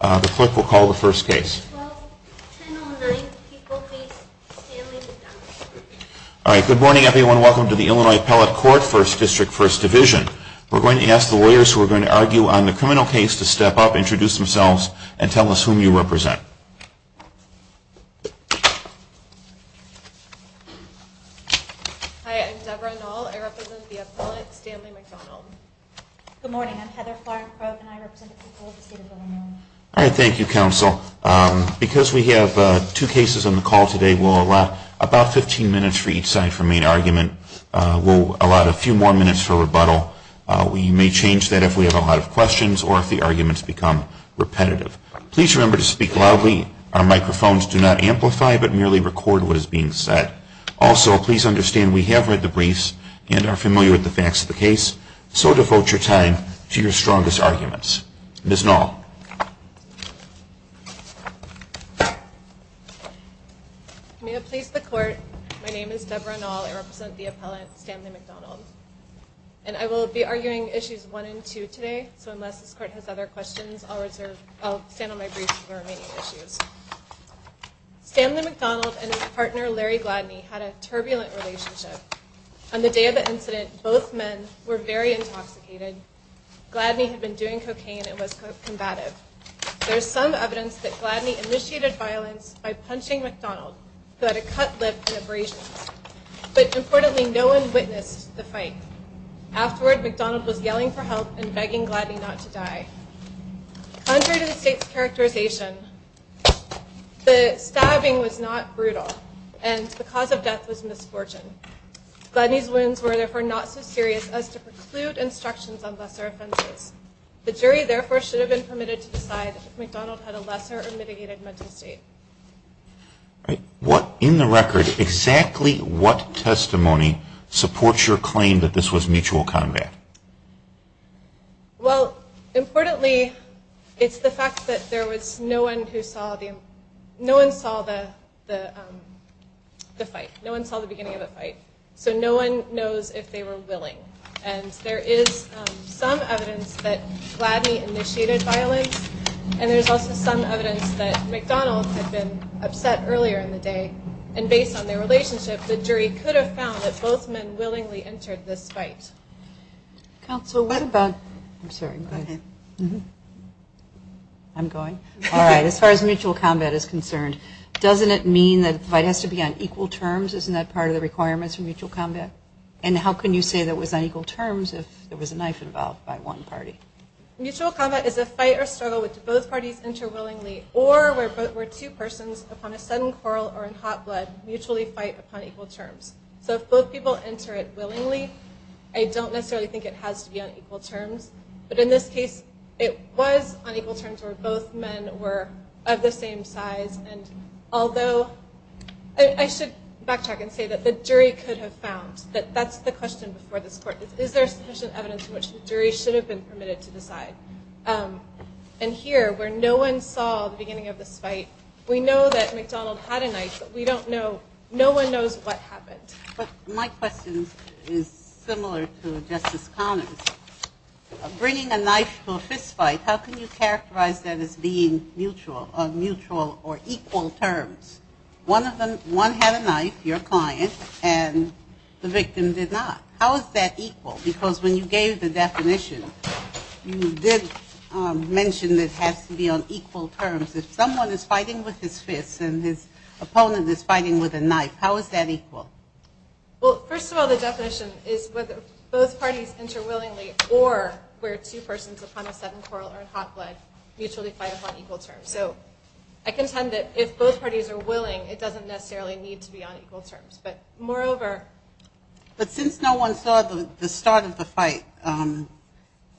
The clerk will call the first case. Good morning everyone. Welcome to the Illinois Appellate Court, 1st District, 1st Division. We're going to ask the lawyers who are going to argue on the criminal case to step up, introduce themselves, and tell us whom you represent. Hi, I'm Debra Noll. I represent the appellate, Stanley McDonald. Good morning, I'm Heather Flarencrote, and I represent the people of the state of Illinois. All right, thank you, counsel. Because we have two cases on the call today, we'll allow about 15 minutes for each side for main argument. We'll allow a few more minutes for rebuttal. We may change that if we have a lot of questions or if the arguments become repetitive. Please remember to speak loudly. Our microphones do not amplify, but merely record what is being said. Also, please understand we have read the briefs and are familiar with the facts of the case, so devote your time to your strongest arguments. Ms. Noll. May it please the Court, my name is Debra Noll. I represent the appellate, Stanley McDonald. And I will be arguing issues 1 and 2 today, so unless this Court has other questions, I'll stand on my briefs for the remaining issues. Stanley McDonald and his partner, Larry Gladney, had a turbulent relationship. On the day of the incident, both men were very intoxicated. Gladney had been doing cocaine and was combative. There is some evidence that Gladney initiated violence by punching McDonald, who had a cut lip and abrasions. But importantly, no one witnessed the fight. Afterward, McDonald was yelling for help and begging Gladney not to die. Contrary to the State's characterization, the stabbing was not brutal and the cause of death was misfortune. Gladney's wounds were therefore not so serious as to preclude instructions on lesser offenses. The jury therefore should have been permitted to decide if McDonald had a lesser or mitigated mental state. In the record, exactly what testimony supports your claim that this was mutual combat? Well, importantly, it's the fact that no one saw the beginning of the fight, so no one knows if they were willing. And there is some evidence that Gladney initiated violence, and there's also some evidence that McDonald had been upset earlier in the day. And based on their relationship, the jury could have found that both men willingly entered this fight. Counsel, what about... I'm sorry, go ahead. I'm going. All right, as far as mutual combat is concerned, doesn't it mean that the fight has to be on equal terms? Isn't that part of the requirements for mutual combat? And how can you say that it was on equal terms if there was a knife involved by one party? Mutual combat is a fight or struggle in which both parties enter willingly, or where two persons, upon a sudden quarrel or in hot blood, mutually fight upon equal terms. So if both people enter it willingly, I don't necessarily think it has to be on equal terms. But in this case, it was on equal terms where both men were of the same size, and although... I should backtrack and say that the jury could have found that that's the question before this court. Is there sufficient evidence in which the jury should have been permitted to decide? And here, where no one saw the beginning of this fight, we know that McDonald had a knife, but we don't know, no one knows what happened. But my question is similar to Justice Connors. Bringing a knife to a fist fight, how can you characterize that as being mutual, on mutual or equal terms? One had a knife, your client, and the victim did not. How is that equal? Because when you gave the definition, you did mention that it has to be on equal terms. If someone is fighting with his fist and his opponent is fighting with a knife, how is that equal? Well, first of all, the definition is whether both parties enter willingly, or where two persons upon a sudden quarrel or in hot blood mutually fight upon equal terms. So I contend that if both parties are willing, it doesn't necessarily need to be on equal terms. But moreover... But since no one saw the start of the fight,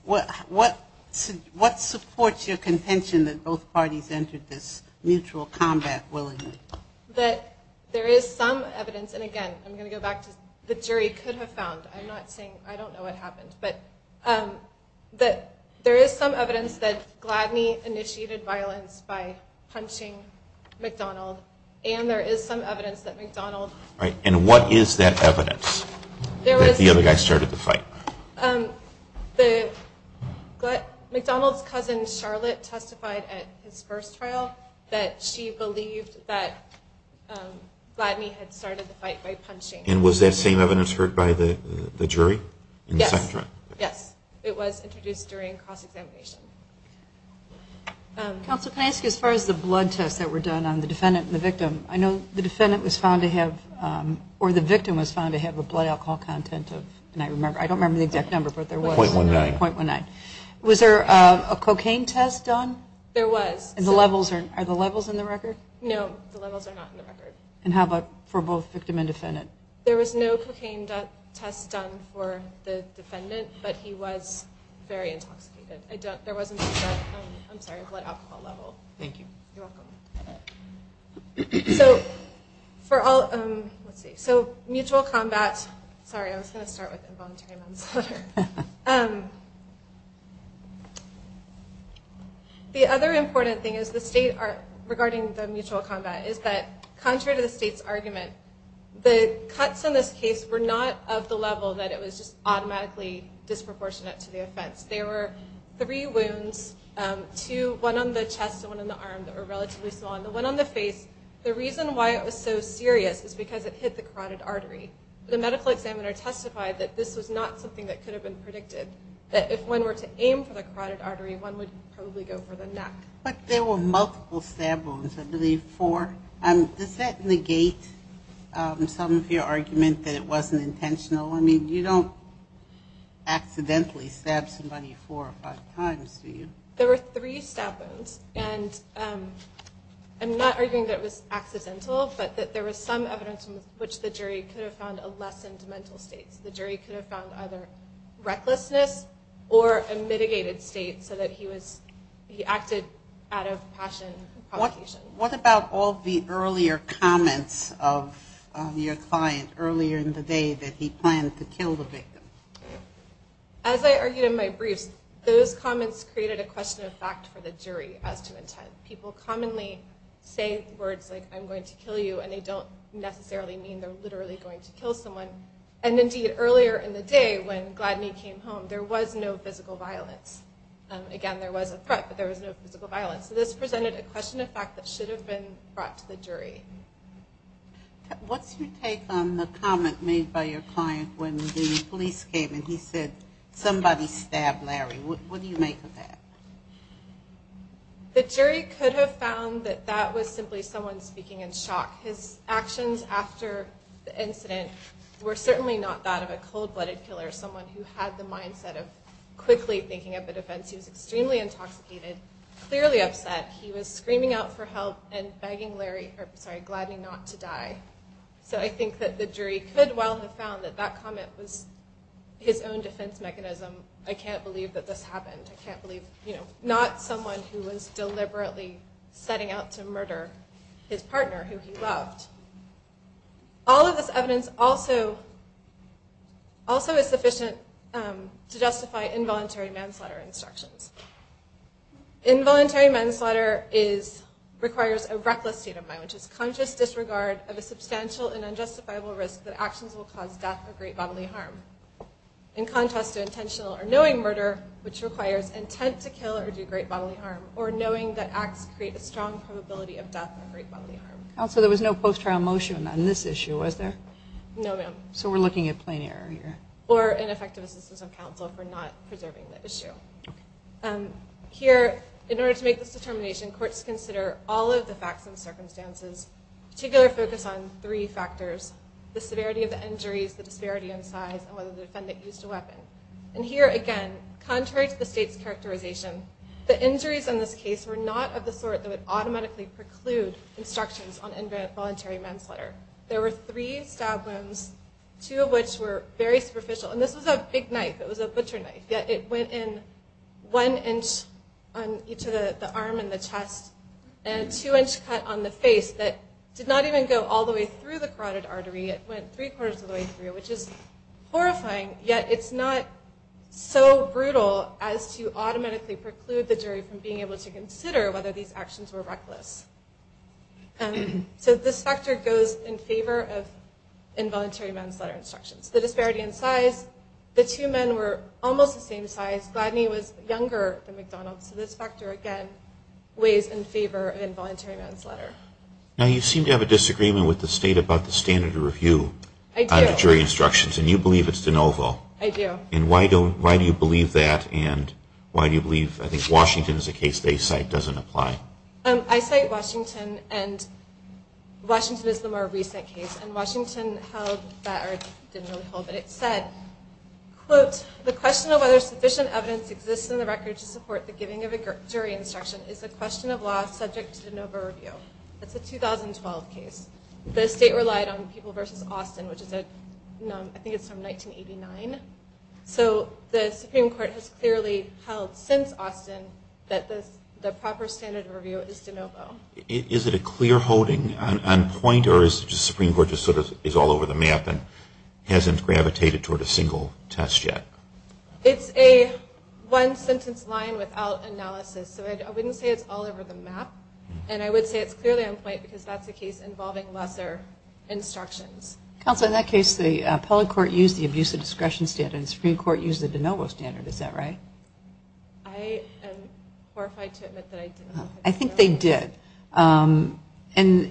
what supports your contention that both parties entered this mutual combat willingly? That there is some evidence, and again, I'm going to go back to the jury could have found, I'm not saying, I don't know what happened, but that there is some evidence that Gladney initiated violence by punching McDonald, and there is some evidence that McDonald... And what is that evidence that the other guy started the fight? McDonald's cousin Charlotte testified at his first trial that she believed that Gladney had started the fight by punching... And was that same evidence heard by the jury? Yes. It was introduced during cross-examination. Counsel, can I ask you, as far as the blood tests that were done on the defendant and the victim, I know the defendant was found to have... Or the victim was found to have a blood alcohol content of... I don't remember the exact number, but there was. .19. .19. Was there a cocaine test done? There was. Are the levels in the record? No, the levels are not in the record. And how about for both victim and defendant? There was no cocaine test done for the defendant, but he was very intoxicated. There wasn't a blood alcohol level. Thank you. You're welcome. So, for all... Let's see. So, mutual combat... Sorry, I was going to start with involuntary manslaughter. The other important thing regarding the mutual combat is that, contrary to the state's argument, the cuts in this case were not of the level that it was just automatically disproportionate to the offense. There were three wounds. One on the chest and one on the arm that were relatively small. The one on the face, the reason why it was so serious is because it hit the carotid artery. The medical examiner testified that this was not something that could have been predicted, that if one were to aim for the carotid artery, one would probably go for the neck. But there were multiple stab wounds, I believe four. Does that negate some of your argument that it wasn't intentional? I mean, you don't accidentally stab somebody four or five times, do you? There were three stab wounds. And I'm not arguing that it was accidental, but that there was some evidence in which the jury could have found a lessened mental state. The jury could have found either recklessness or a mitigated state so that he acted out of passion and provocation. What about all the earlier comments of your client earlier in the day that he planned to kill the victim? As I argued in my briefs, those comments created a question of fact for the jury as to intent. People commonly say words like, I'm going to kill you, and they don't necessarily mean they're literally going to kill someone. And indeed, earlier in the day when Gladney came home, there was no physical violence. Again, there was a threat, but there was no physical violence. So this presented a question of fact that should have been brought to the jury. What's your take on the comment made by your client when the police came and he said, somebody stabbed Larry? What do you make of that? The jury could have found that that was simply someone speaking in shock. His actions after the incident were certainly not that of a cold-blooded killer, someone who had the mindset of quickly making up a defense. He was extremely intoxicated, clearly upset. He was screaming out for help and begging Gladney not to die. So I think that the jury could well have found that that comment was his own defense mechanism. I can't believe that this happened. I can't believe not someone who was deliberately setting out to murder his partner, who he loved. All of this evidence also is sufficient to justify involuntary manslaughter instructions. Involuntary manslaughter requires a reckless state of mind, which is conscious disregard of a substantial and unjustifiable risk that actions will cause death or great bodily harm. In contrast to intentional or knowing murder, which requires intent to kill or do great bodily harm, or knowing that acts create a strong probability of death or great bodily harm. Counsel, there was no post-trial motion on this issue, was there? No, ma'am. So we're looking at plain error here. Or ineffective assistance of counsel for not preserving the issue. Okay. Here, in order to make this determination, courts consider all of the facts and circumstances, particular focus on three factors. The severity of the injuries, the disparity in size, and whether the defendant used a weapon. And here again, contrary to the state's characterization, the injuries in this case were not of the sort that would automatically preclude instructions on involuntary manslaughter. There were three stab wounds, two of which were very superficial. And this was a big knife. It was a butcher knife. Yet it went in one inch on each of the arm and the chest, and a two-inch cut on the face that did not even go all the way through the carotid artery. It went three-quarters of the way through, which is horrifying. Yet it's not so brutal as to automatically preclude the jury from being able to consider whether these actions were reckless. So this factor goes in favor of involuntary manslaughter instructions. The disparity in size, the two men were almost the same size. Gladney was younger than McDonald. So this factor, again, weighs in favor of involuntary manslaughter. Now, you seem to have a disagreement with the state about the standard of review under jury instructions. And you believe it's de novo. I do. And why do you believe that? And why do you believe I think Washington is a case they cite doesn't apply? I cite Washington, and Washington is the more recent case. And Washington held that, or didn't really hold it. It said, quote, the question of whether sufficient evidence exists in the record to support the giving of a jury instruction is a question of law subject to de novo review. That's a 2012 case. The state relied on People v. Austin, which is a, I think it's from 1989. So the Supreme Court has clearly held since Austin that the proper standard of review is de novo. Is it a clear holding on point, or is the Supreme Court just sort of is all over the map and hasn't gravitated toward a single test yet? It's a one-sentence line without analysis. So I wouldn't say it's all over the map. And I would say it's clearly on point because that's a case involving lesser instructions. Counsel, in that case, the appellate court used the abuse of discretion standard, and the Supreme Court used the de novo standard. Is that right? I am horrified to admit that I didn't. I think they did. And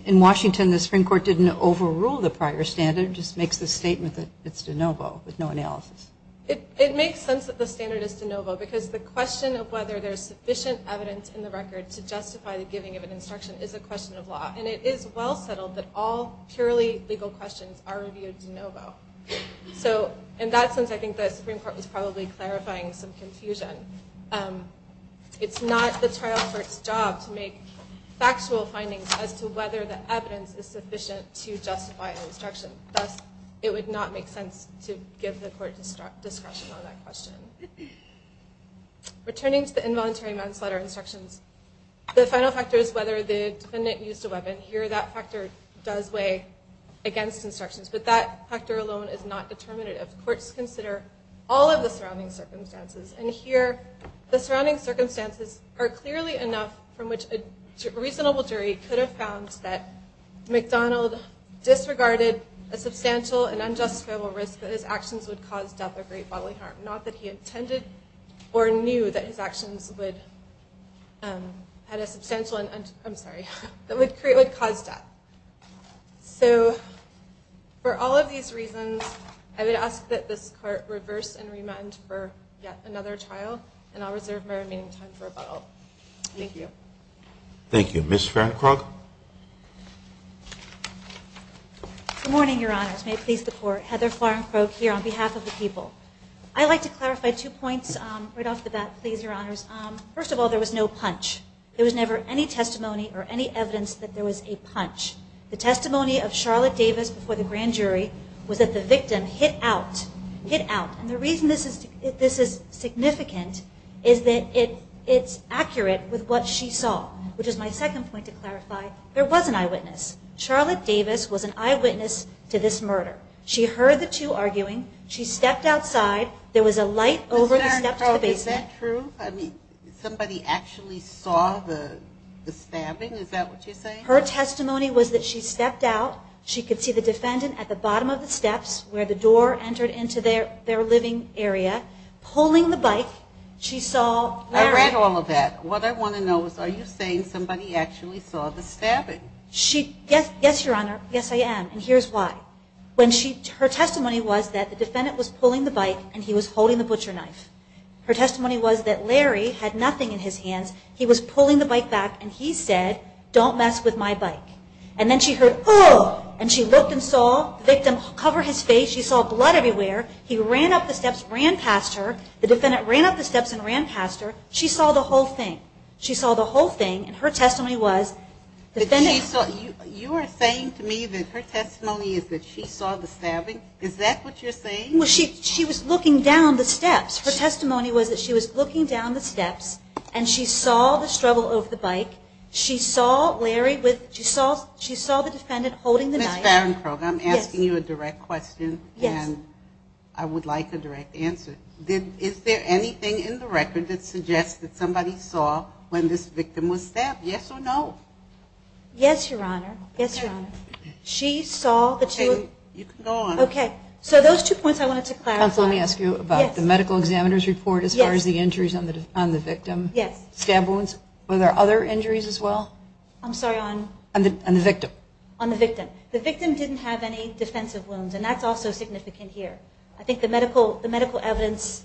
in Washington, the Supreme Court didn't overrule the prior standard. It just makes the statement that it's de novo with no analysis. It makes sense that the standard is de novo because the question of whether there's sufficient evidence in the record to justify the giving of an instruction is a question of law. And it is well settled that all purely legal questions are reviewed de novo. So in that sense, I think the Supreme Court was probably clarifying some confusion. It's not the trial court's job to make factual findings as to whether the evidence is sufficient to justify an instruction. Thus, it would not make sense to give the court discretion on that question. Returning to the involuntary manslaughter instructions, the final factor is whether the defendant used a weapon. Here, that factor does weigh against instructions. But that factor alone is not determinative. Courts consider all of the surrounding circumstances. And here, the surrounding circumstances are clearly enough from which a reasonable jury could have found that McDonald disregarded a substantial and unjustifiable risk that his actions would cause death or great bodily harm, not that he intended or knew that his actions would cause death. So for all of these reasons, I would ask that this court reverse and remand for yet another trial. And I'll reserve my remaining time for about all. Thank you. Thank you. Ms. Fahrenkrug? Good morning, Your Honors. May it please the Court. Heather Fahrenkrug here on behalf of the people. I'd like to clarify two points right off the bat, please, Your Honors. First of all, there was no punch. There was never any testimony or any evidence that there was a punch. The testimony of Charlotte Davis before the grand jury was that the victim hit out. Hit out. And the reason this is significant is that it's accurate with what she saw. Which is my second point to clarify. There was an eyewitness. Charlotte Davis was an eyewitness to this murder. She heard the two arguing. There was a light over the steps of the basement. Ms. Fahrenkrug, is that true? I mean, somebody actually saw the stabbing? Is that what you're saying? Her testimony was that she stepped out. She could see the defendant at the bottom of the steps where the door entered into their living area, pulling the bike. She saw Larry. I read all of that. What I want to know is are you saying somebody actually saw the stabbing? Yes, Your Honor. Yes, I am. And here's why. Her testimony was that the defendant was pulling the bike and he was holding the butcher knife. Her testimony was that Larry had nothing in his hands. He was pulling the bike back and he said, don't mess with my bike. And then she heard, oh! And she looked and saw the victim cover his face. She saw blood everywhere. He ran up the steps, ran past her. The defendant ran up the steps and ran past her. She saw the whole thing. She saw the whole thing. And her testimony was the defendant... You are saying to me that her testimony is that she saw the stabbing? Is that what you're saying? Well, she was looking down the steps. Her testimony was that she was looking down the steps and she saw the struggle of the bike. She saw Larry with... She saw the defendant holding the knife. Ms. Barencroft, I'm asking you a direct question and I would like a direct answer. Is there anything in the record that suggests that somebody saw when this victim was stabbed? Yes or no? Yes, Your Honor. Yes, Your Honor. She saw the two... Okay, you can go on. Okay. So those two points I wanted to clarify. Counsel, let me ask you about the medical examiner's report as far as the injuries on the victim. Yes. Stab wounds. Were there other injuries as well? I'm sorry, on... On the victim. On the victim. The victim didn't have any defensive wounds and that's also significant here. I think the medical evidence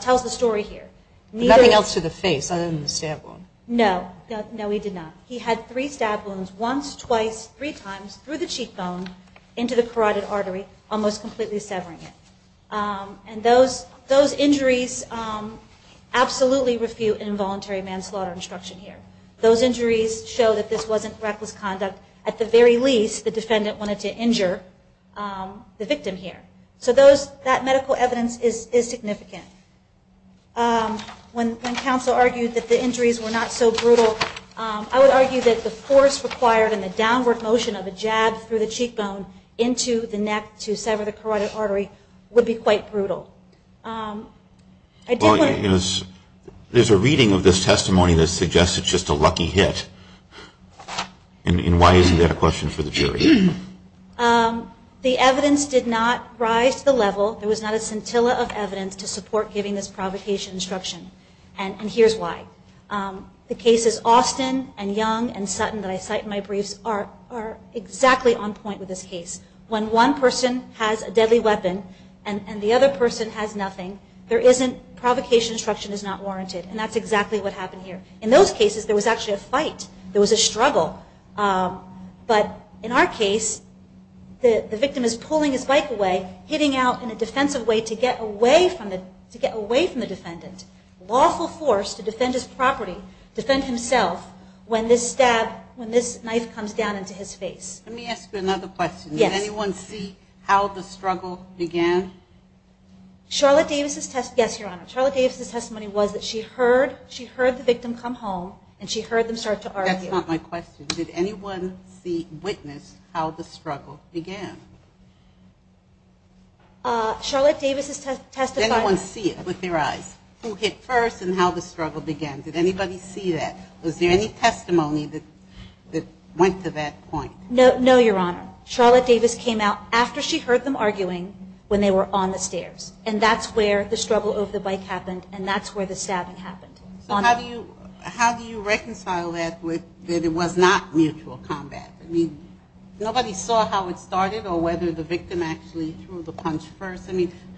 tells the story here. Nothing else to the face other than the stab wound? No. No, he did not. He had three stab wounds once, twice, three times through the cheekbone into the carotid artery almost completely severing it. And those injuries absolutely refute involuntary manslaughter instruction here. Those injuries show that this wasn't reckless conduct. At the very least, the defendant wanted to injure the victim here. So that medical evidence is significant. When counsel argued that the injuries were not so brutal I would argue that the force required and the downward motion of a jab through the cheekbone into the neck to sever the carotid artery would be quite brutal. There's a reading of this testimony that suggests it's just a lucky hit. And why isn't that a question for the jury? The evidence did not rise to the level there was not a scintilla of evidence to support giving this provocation instruction and here's why. The cases Austin and Young and Sutton that I cite in my briefs are exactly on point with this case. When one person has a deadly weapon and the other person has nothing provocation instruction is not warranted. And that's exactly what happened here. In those cases there was actually a fight. There was a struggle. But in our case the victim is pulling his bike away hitting out in a defensive way to get away from the defendant. Lawful force to defend his property. Defend himself when this knife comes down into his face. Let me ask you another question. Did anyone see how the struggle began? Charlotte Davis' testimony was that she heard the victim come home and she heard them start to argue. That's not my question. Did anyone witness how the struggle began? Charlotte Davis' testimony Did anyone see it with their eyes? Who hit first and how the struggle began? Did anybody see that? Was there any testimony that went to that point? No, Your Honor. Charlotte Davis came out after she heard them arguing when they were on the stairs. And that's where the struggle over the bike happened and that's where the stabbing happened. How do you reconcile that with that it was not mutual combat? Nobody saw how it started or whether the victim actually threw the punch first.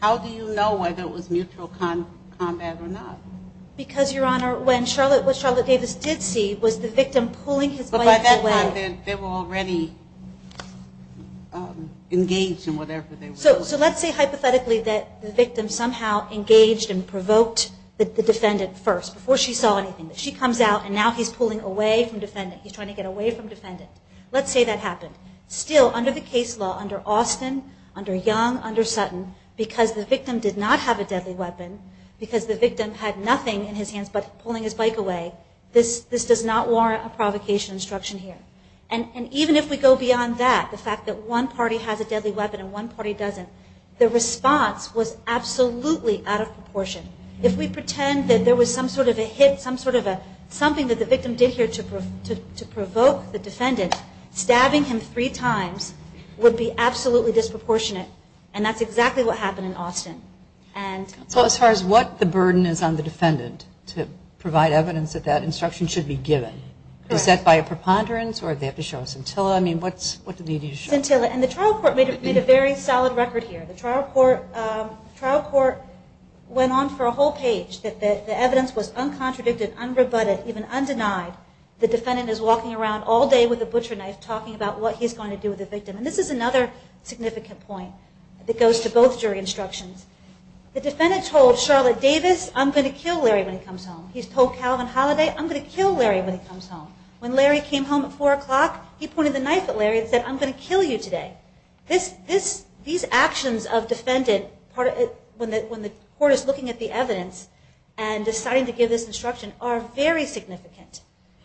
How do you know whether it was mutual combat or not? Because, Your Honor, what Charlotte Davis did see was the victim pulling his bike away. But by that time they were already engaged in whatever they were doing. So let's say hypothetically that the victim somehow engaged and provoked the defendant first before she saw anything. She comes out and now he's pulling away from the defendant. He's trying to get away from the defendant. Let's say that happened. Still, under the case law, under Austin, under Young, under Sutton, because the victim did not have a deadly weapon, because the victim had nothing in his hands but pulling his bike away, this does not warrant a provocation instruction here. And even if we go beyond that, the fact that one party has a deadly weapon and one party doesn't, the response was absolutely out of proportion. If we pretend that there was some sort of a hit, something that the victim did here to provoke the defendant, stabbing him three times would be absolutely disproportionate. And that's exactly what happened in Austin. So as far as what the burden is on the defendant to provide evidence that that instruction should be given, is that by a preponderance or do they have to show scintilla? Scintilla. And the trial court made a very solid record here. The trial court went on for a whole page that the evidence was uncontradicted, unrebutted, even undenied. The defendant is walking around all day with a butcher knife talking about what he's going to do with the victim. And this is another significant point that goes to both jury instructions. The defendant told Charlotte Davis I'm going to kill Larry when he comes home. He told Calvin Holliday, I'm going to kill Larry when he comes home. When Larry came home at 4 o'clock he pointed the knife at Larry and said I'm going to kill you today. These actions of defendant when the court is looking at the evidence and deciding to give this instruction are very significant.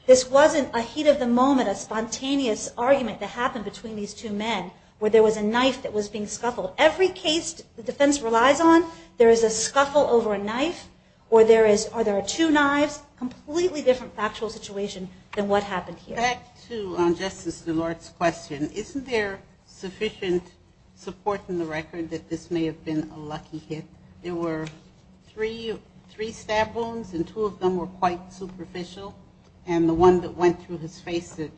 This wasn't a heat of the moment, a spontaneous argument that happened between these two men where there was a knife that was being scuffled. Every case the defense relies on there is a scuffle over a knife or there are two knives. Completely different factual situation than what happened here. Back to Justice Delort's question. Isn't there sufficient support in the record that this may have been a lucky hit? There were three stab wounds and two of them were quite superficial and the one that went through his face that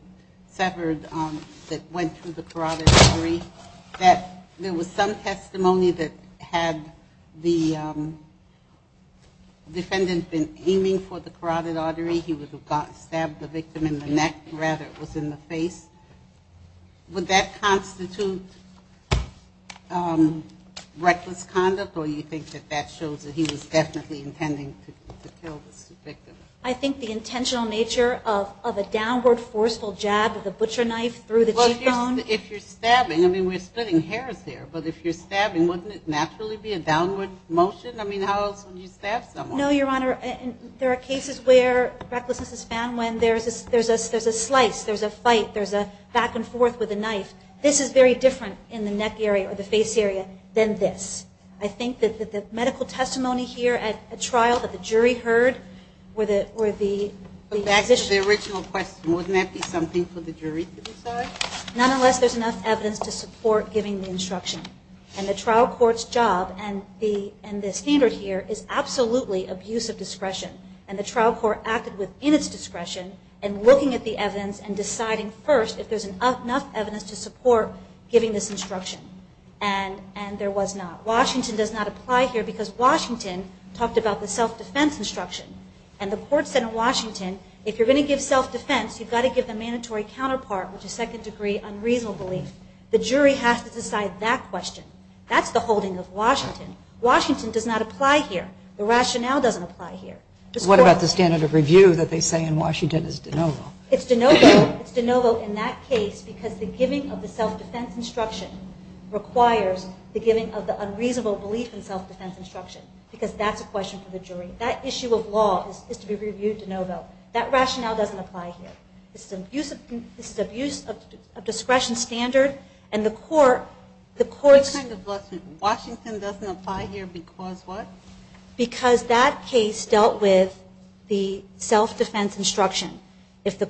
severed that went through the carotid artery that there was some testimony that had the defendant been aiming for the carotid artery. He would have stabbed the victim in the neck, rather it was in the face. Would that constitute reckless conduct or do you think that that shows that he was definitely intending to kill this victim? I think the intentional nature of a downward forceful jab of the butcher knife through the cheekbone Well if you're stabbing I mean we're splitting hairs here but if you're stabbing wouldn't it naturally be a downward motion? I mean how else would you stab someone? No Your Honor, there are cases where recklessness is found when there's a slice, there's a fight there's a back and forth with a knife this is very different in the neck area or the face area than this. I think that the medical testimony here at trial that the jury heard were the back to the original question wouldn't that be something for the jury to decide? Not unless there's enough evidence to support giving the instruction and the trial court's job and the standard here is absolutely abuse of discretion and the trial court acted within its discretion and looking at the evidence and deciding first if there's enough evidence to support giving this instruction and there was not. Washington does not apply here because Washington talked about the self-defense instruction and the court said in Washington if you're going to give self-defense you've got to give the mandatory counterpart which is second degree unreasonable belief. The jury has to decide that question. That's the holding of Washington. Washington does not apply here. The rationale doesn't apply here. What about the standard of review that they say in Washington is de novo? It's de novo in that case because the giving of the self-defense instruction requires the giving of the unreasonable belief in self-defense instruction because that's the last question for the jury. That issue of law is to be reviewed de novo. That rationale doesn't apply here. This is abuse of discretion standard and the court... Washington doesn't apply here because what? Because that case dealt with the self-defense instruction. If the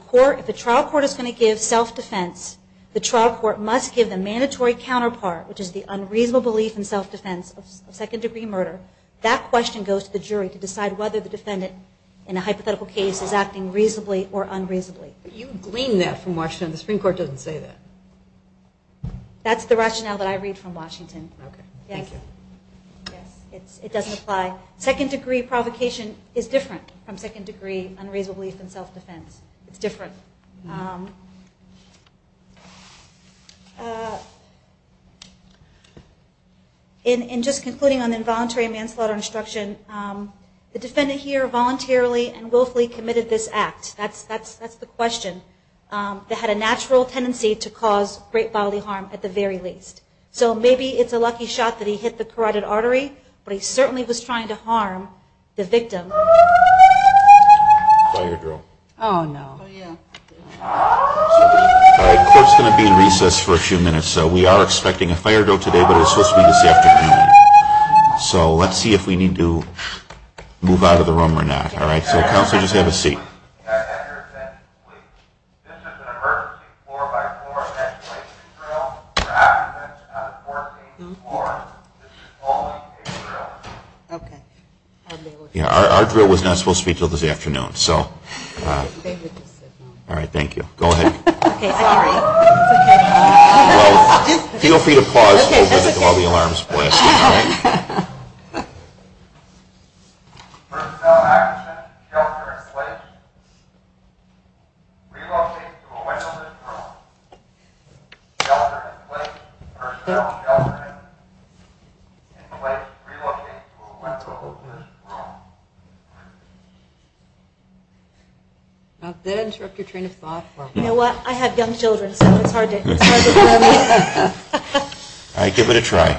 trial court is going to give self-defense, the trial court must give the mandatory counterpart which is the unreasonable belief in self-defense of second degree murder, that question goes to the jury to decide whether the defendant in a hypothetical case is acting reasonably or unreasonably. You glean that from Washington. The Supreme Court doesn't say that. That's the rationale that I read from Washington. Okay. Thank you. It doesn't apply. Second degree provocation is different from second degree unreasonable belief in self-defense. It's different. In just concluding on the involuntary manslaughter instruction, the defendant here voluntarily and willfully committed this act, that's the question, that had a natural tendency to cause great bodily harm at the very least. So maybe it's a lucky shot that he hit the carotid artery, but he certainly was trying to harm the victim. Oh no. All right. Court's going to be in recess for a few minutes, so we are expecting a fire drill today, but it's supposed to be this afternoon. So let's see if we need to move out of the room or not. All right. So counsel, just have a seat. Okay. Our drill was not supposed to be until this afternoon. All right. Thank you. Go ahead. Feel free to pause while the alarm is blasting. Did that interrupt your train of thought? You know what? I have young children, so it's hard to tell me. All right. Give it a try.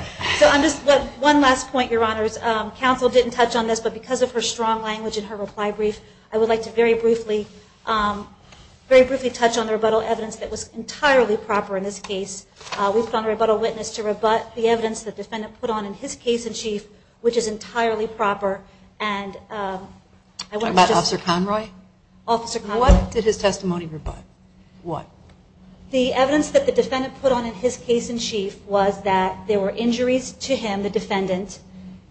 One last point, Your Honors. Counsel didn't touch on this, but because of her strong language in her reply brief, I would like to very briefly touch on the rebuttal evidence that was entirely proper in this case. We put on a rebuttal witness to rebut the evidence the defendant put on in his case in chief, which is entirely proper, and I want to just What did his testimony rebut? What? The evidence that the defendant put on in his case in chief was that there were injuries to him, the defendant,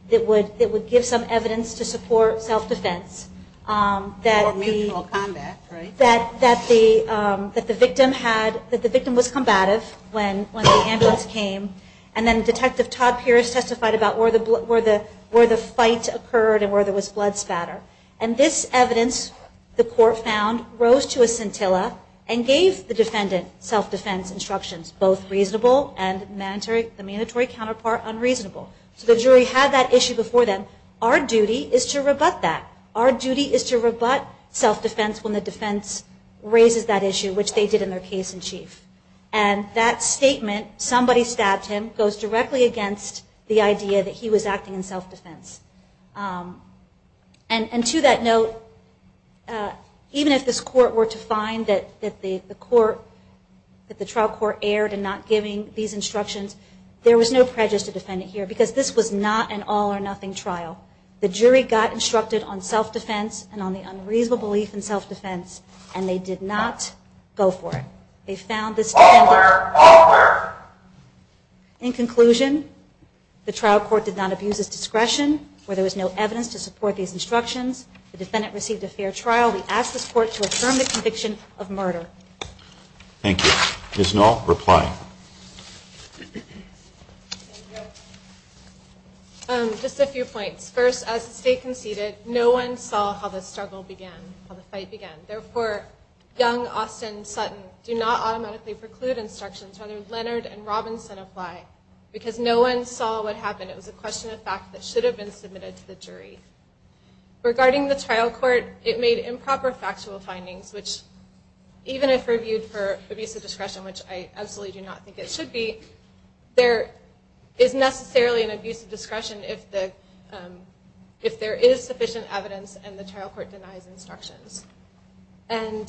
that would give some evidence to support self-defense. Or mutual combat, right? That the victim was combative when the ambulance came, and then Detective Todd Pierce testified about where the fight occurred and where there was blood spatter. And this evidence, the court found, rose to a scintilla and gave the defendant self-defense instructions, both reasonable and the mandatory counterpart unreasonable. So the jury had that issue before them. Our duty is to rebut that. Our duty is to rebut self-defense when the defense raises that issue, which they did in their case in chief. And that statement, somebody stabbed him, goes directly against the idea that he was acting in self-defense. And to that note, even if this court were to find that the court, that the trial court, erred in not giving these instructions, there was no prejudice to the defendant here, because this was not an all-or-nothing trial. The jury got instructed on self-defense and on the unreasonable belief in self-defense, and they did not go for it. They found this defendant... In conclusion, the trial court did not abuse its discretion, where there was no evidence to support these instructions. The defendant received a fair trial. We ask this court to affirm the conviction of murder. Thank you. Ms. Knoll, reply. Just a few points. First, as the State conceded, no one saw how the struggle began, how the fight began. Therefore, young Austin Sutton, do not automatically preclude instructions. Rather, Leonard and Robinson apply, because no one saw what happened. It was a question of fact that should have been submitted to the jury. Regarding the trial court, it made improper factual findings, which, even if reviewed for abuse of discretion, which I absolutely do not think it should be, there is necessarily an abuse of discretion if the... if there is sufficient evidence and the trial court denies instructions. And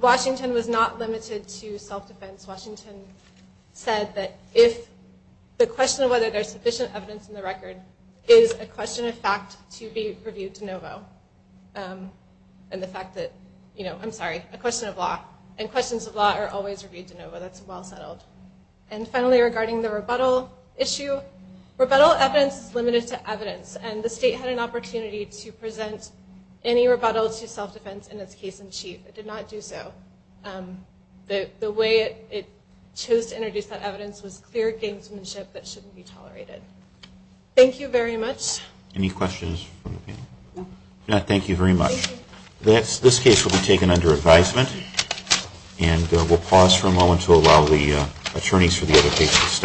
Washington was not limited to self-defense. Washington said that if the question of whether there is sufficient evidence in the record is a question of fact to be reviewed de novo. And the fact that, you know, I'm sorry, a question of law. And questions of law are always reviewed de novo. That's well settled. And finally, regarding the rebuttal issue, rebuttal evidence is limited to evidence, and the State had an opportunity to present any rebuttal to self-defense in its case in chief. It did not do so. The way it chose to introduce that evidence was clear gamesmanship that shouldn't be tolerated. Thank you very much. Any questions from the panel? If not, thank you very much. This case will be taken under advisement, and we'll pause for a moment to allow the attorneys for the other cases to step up.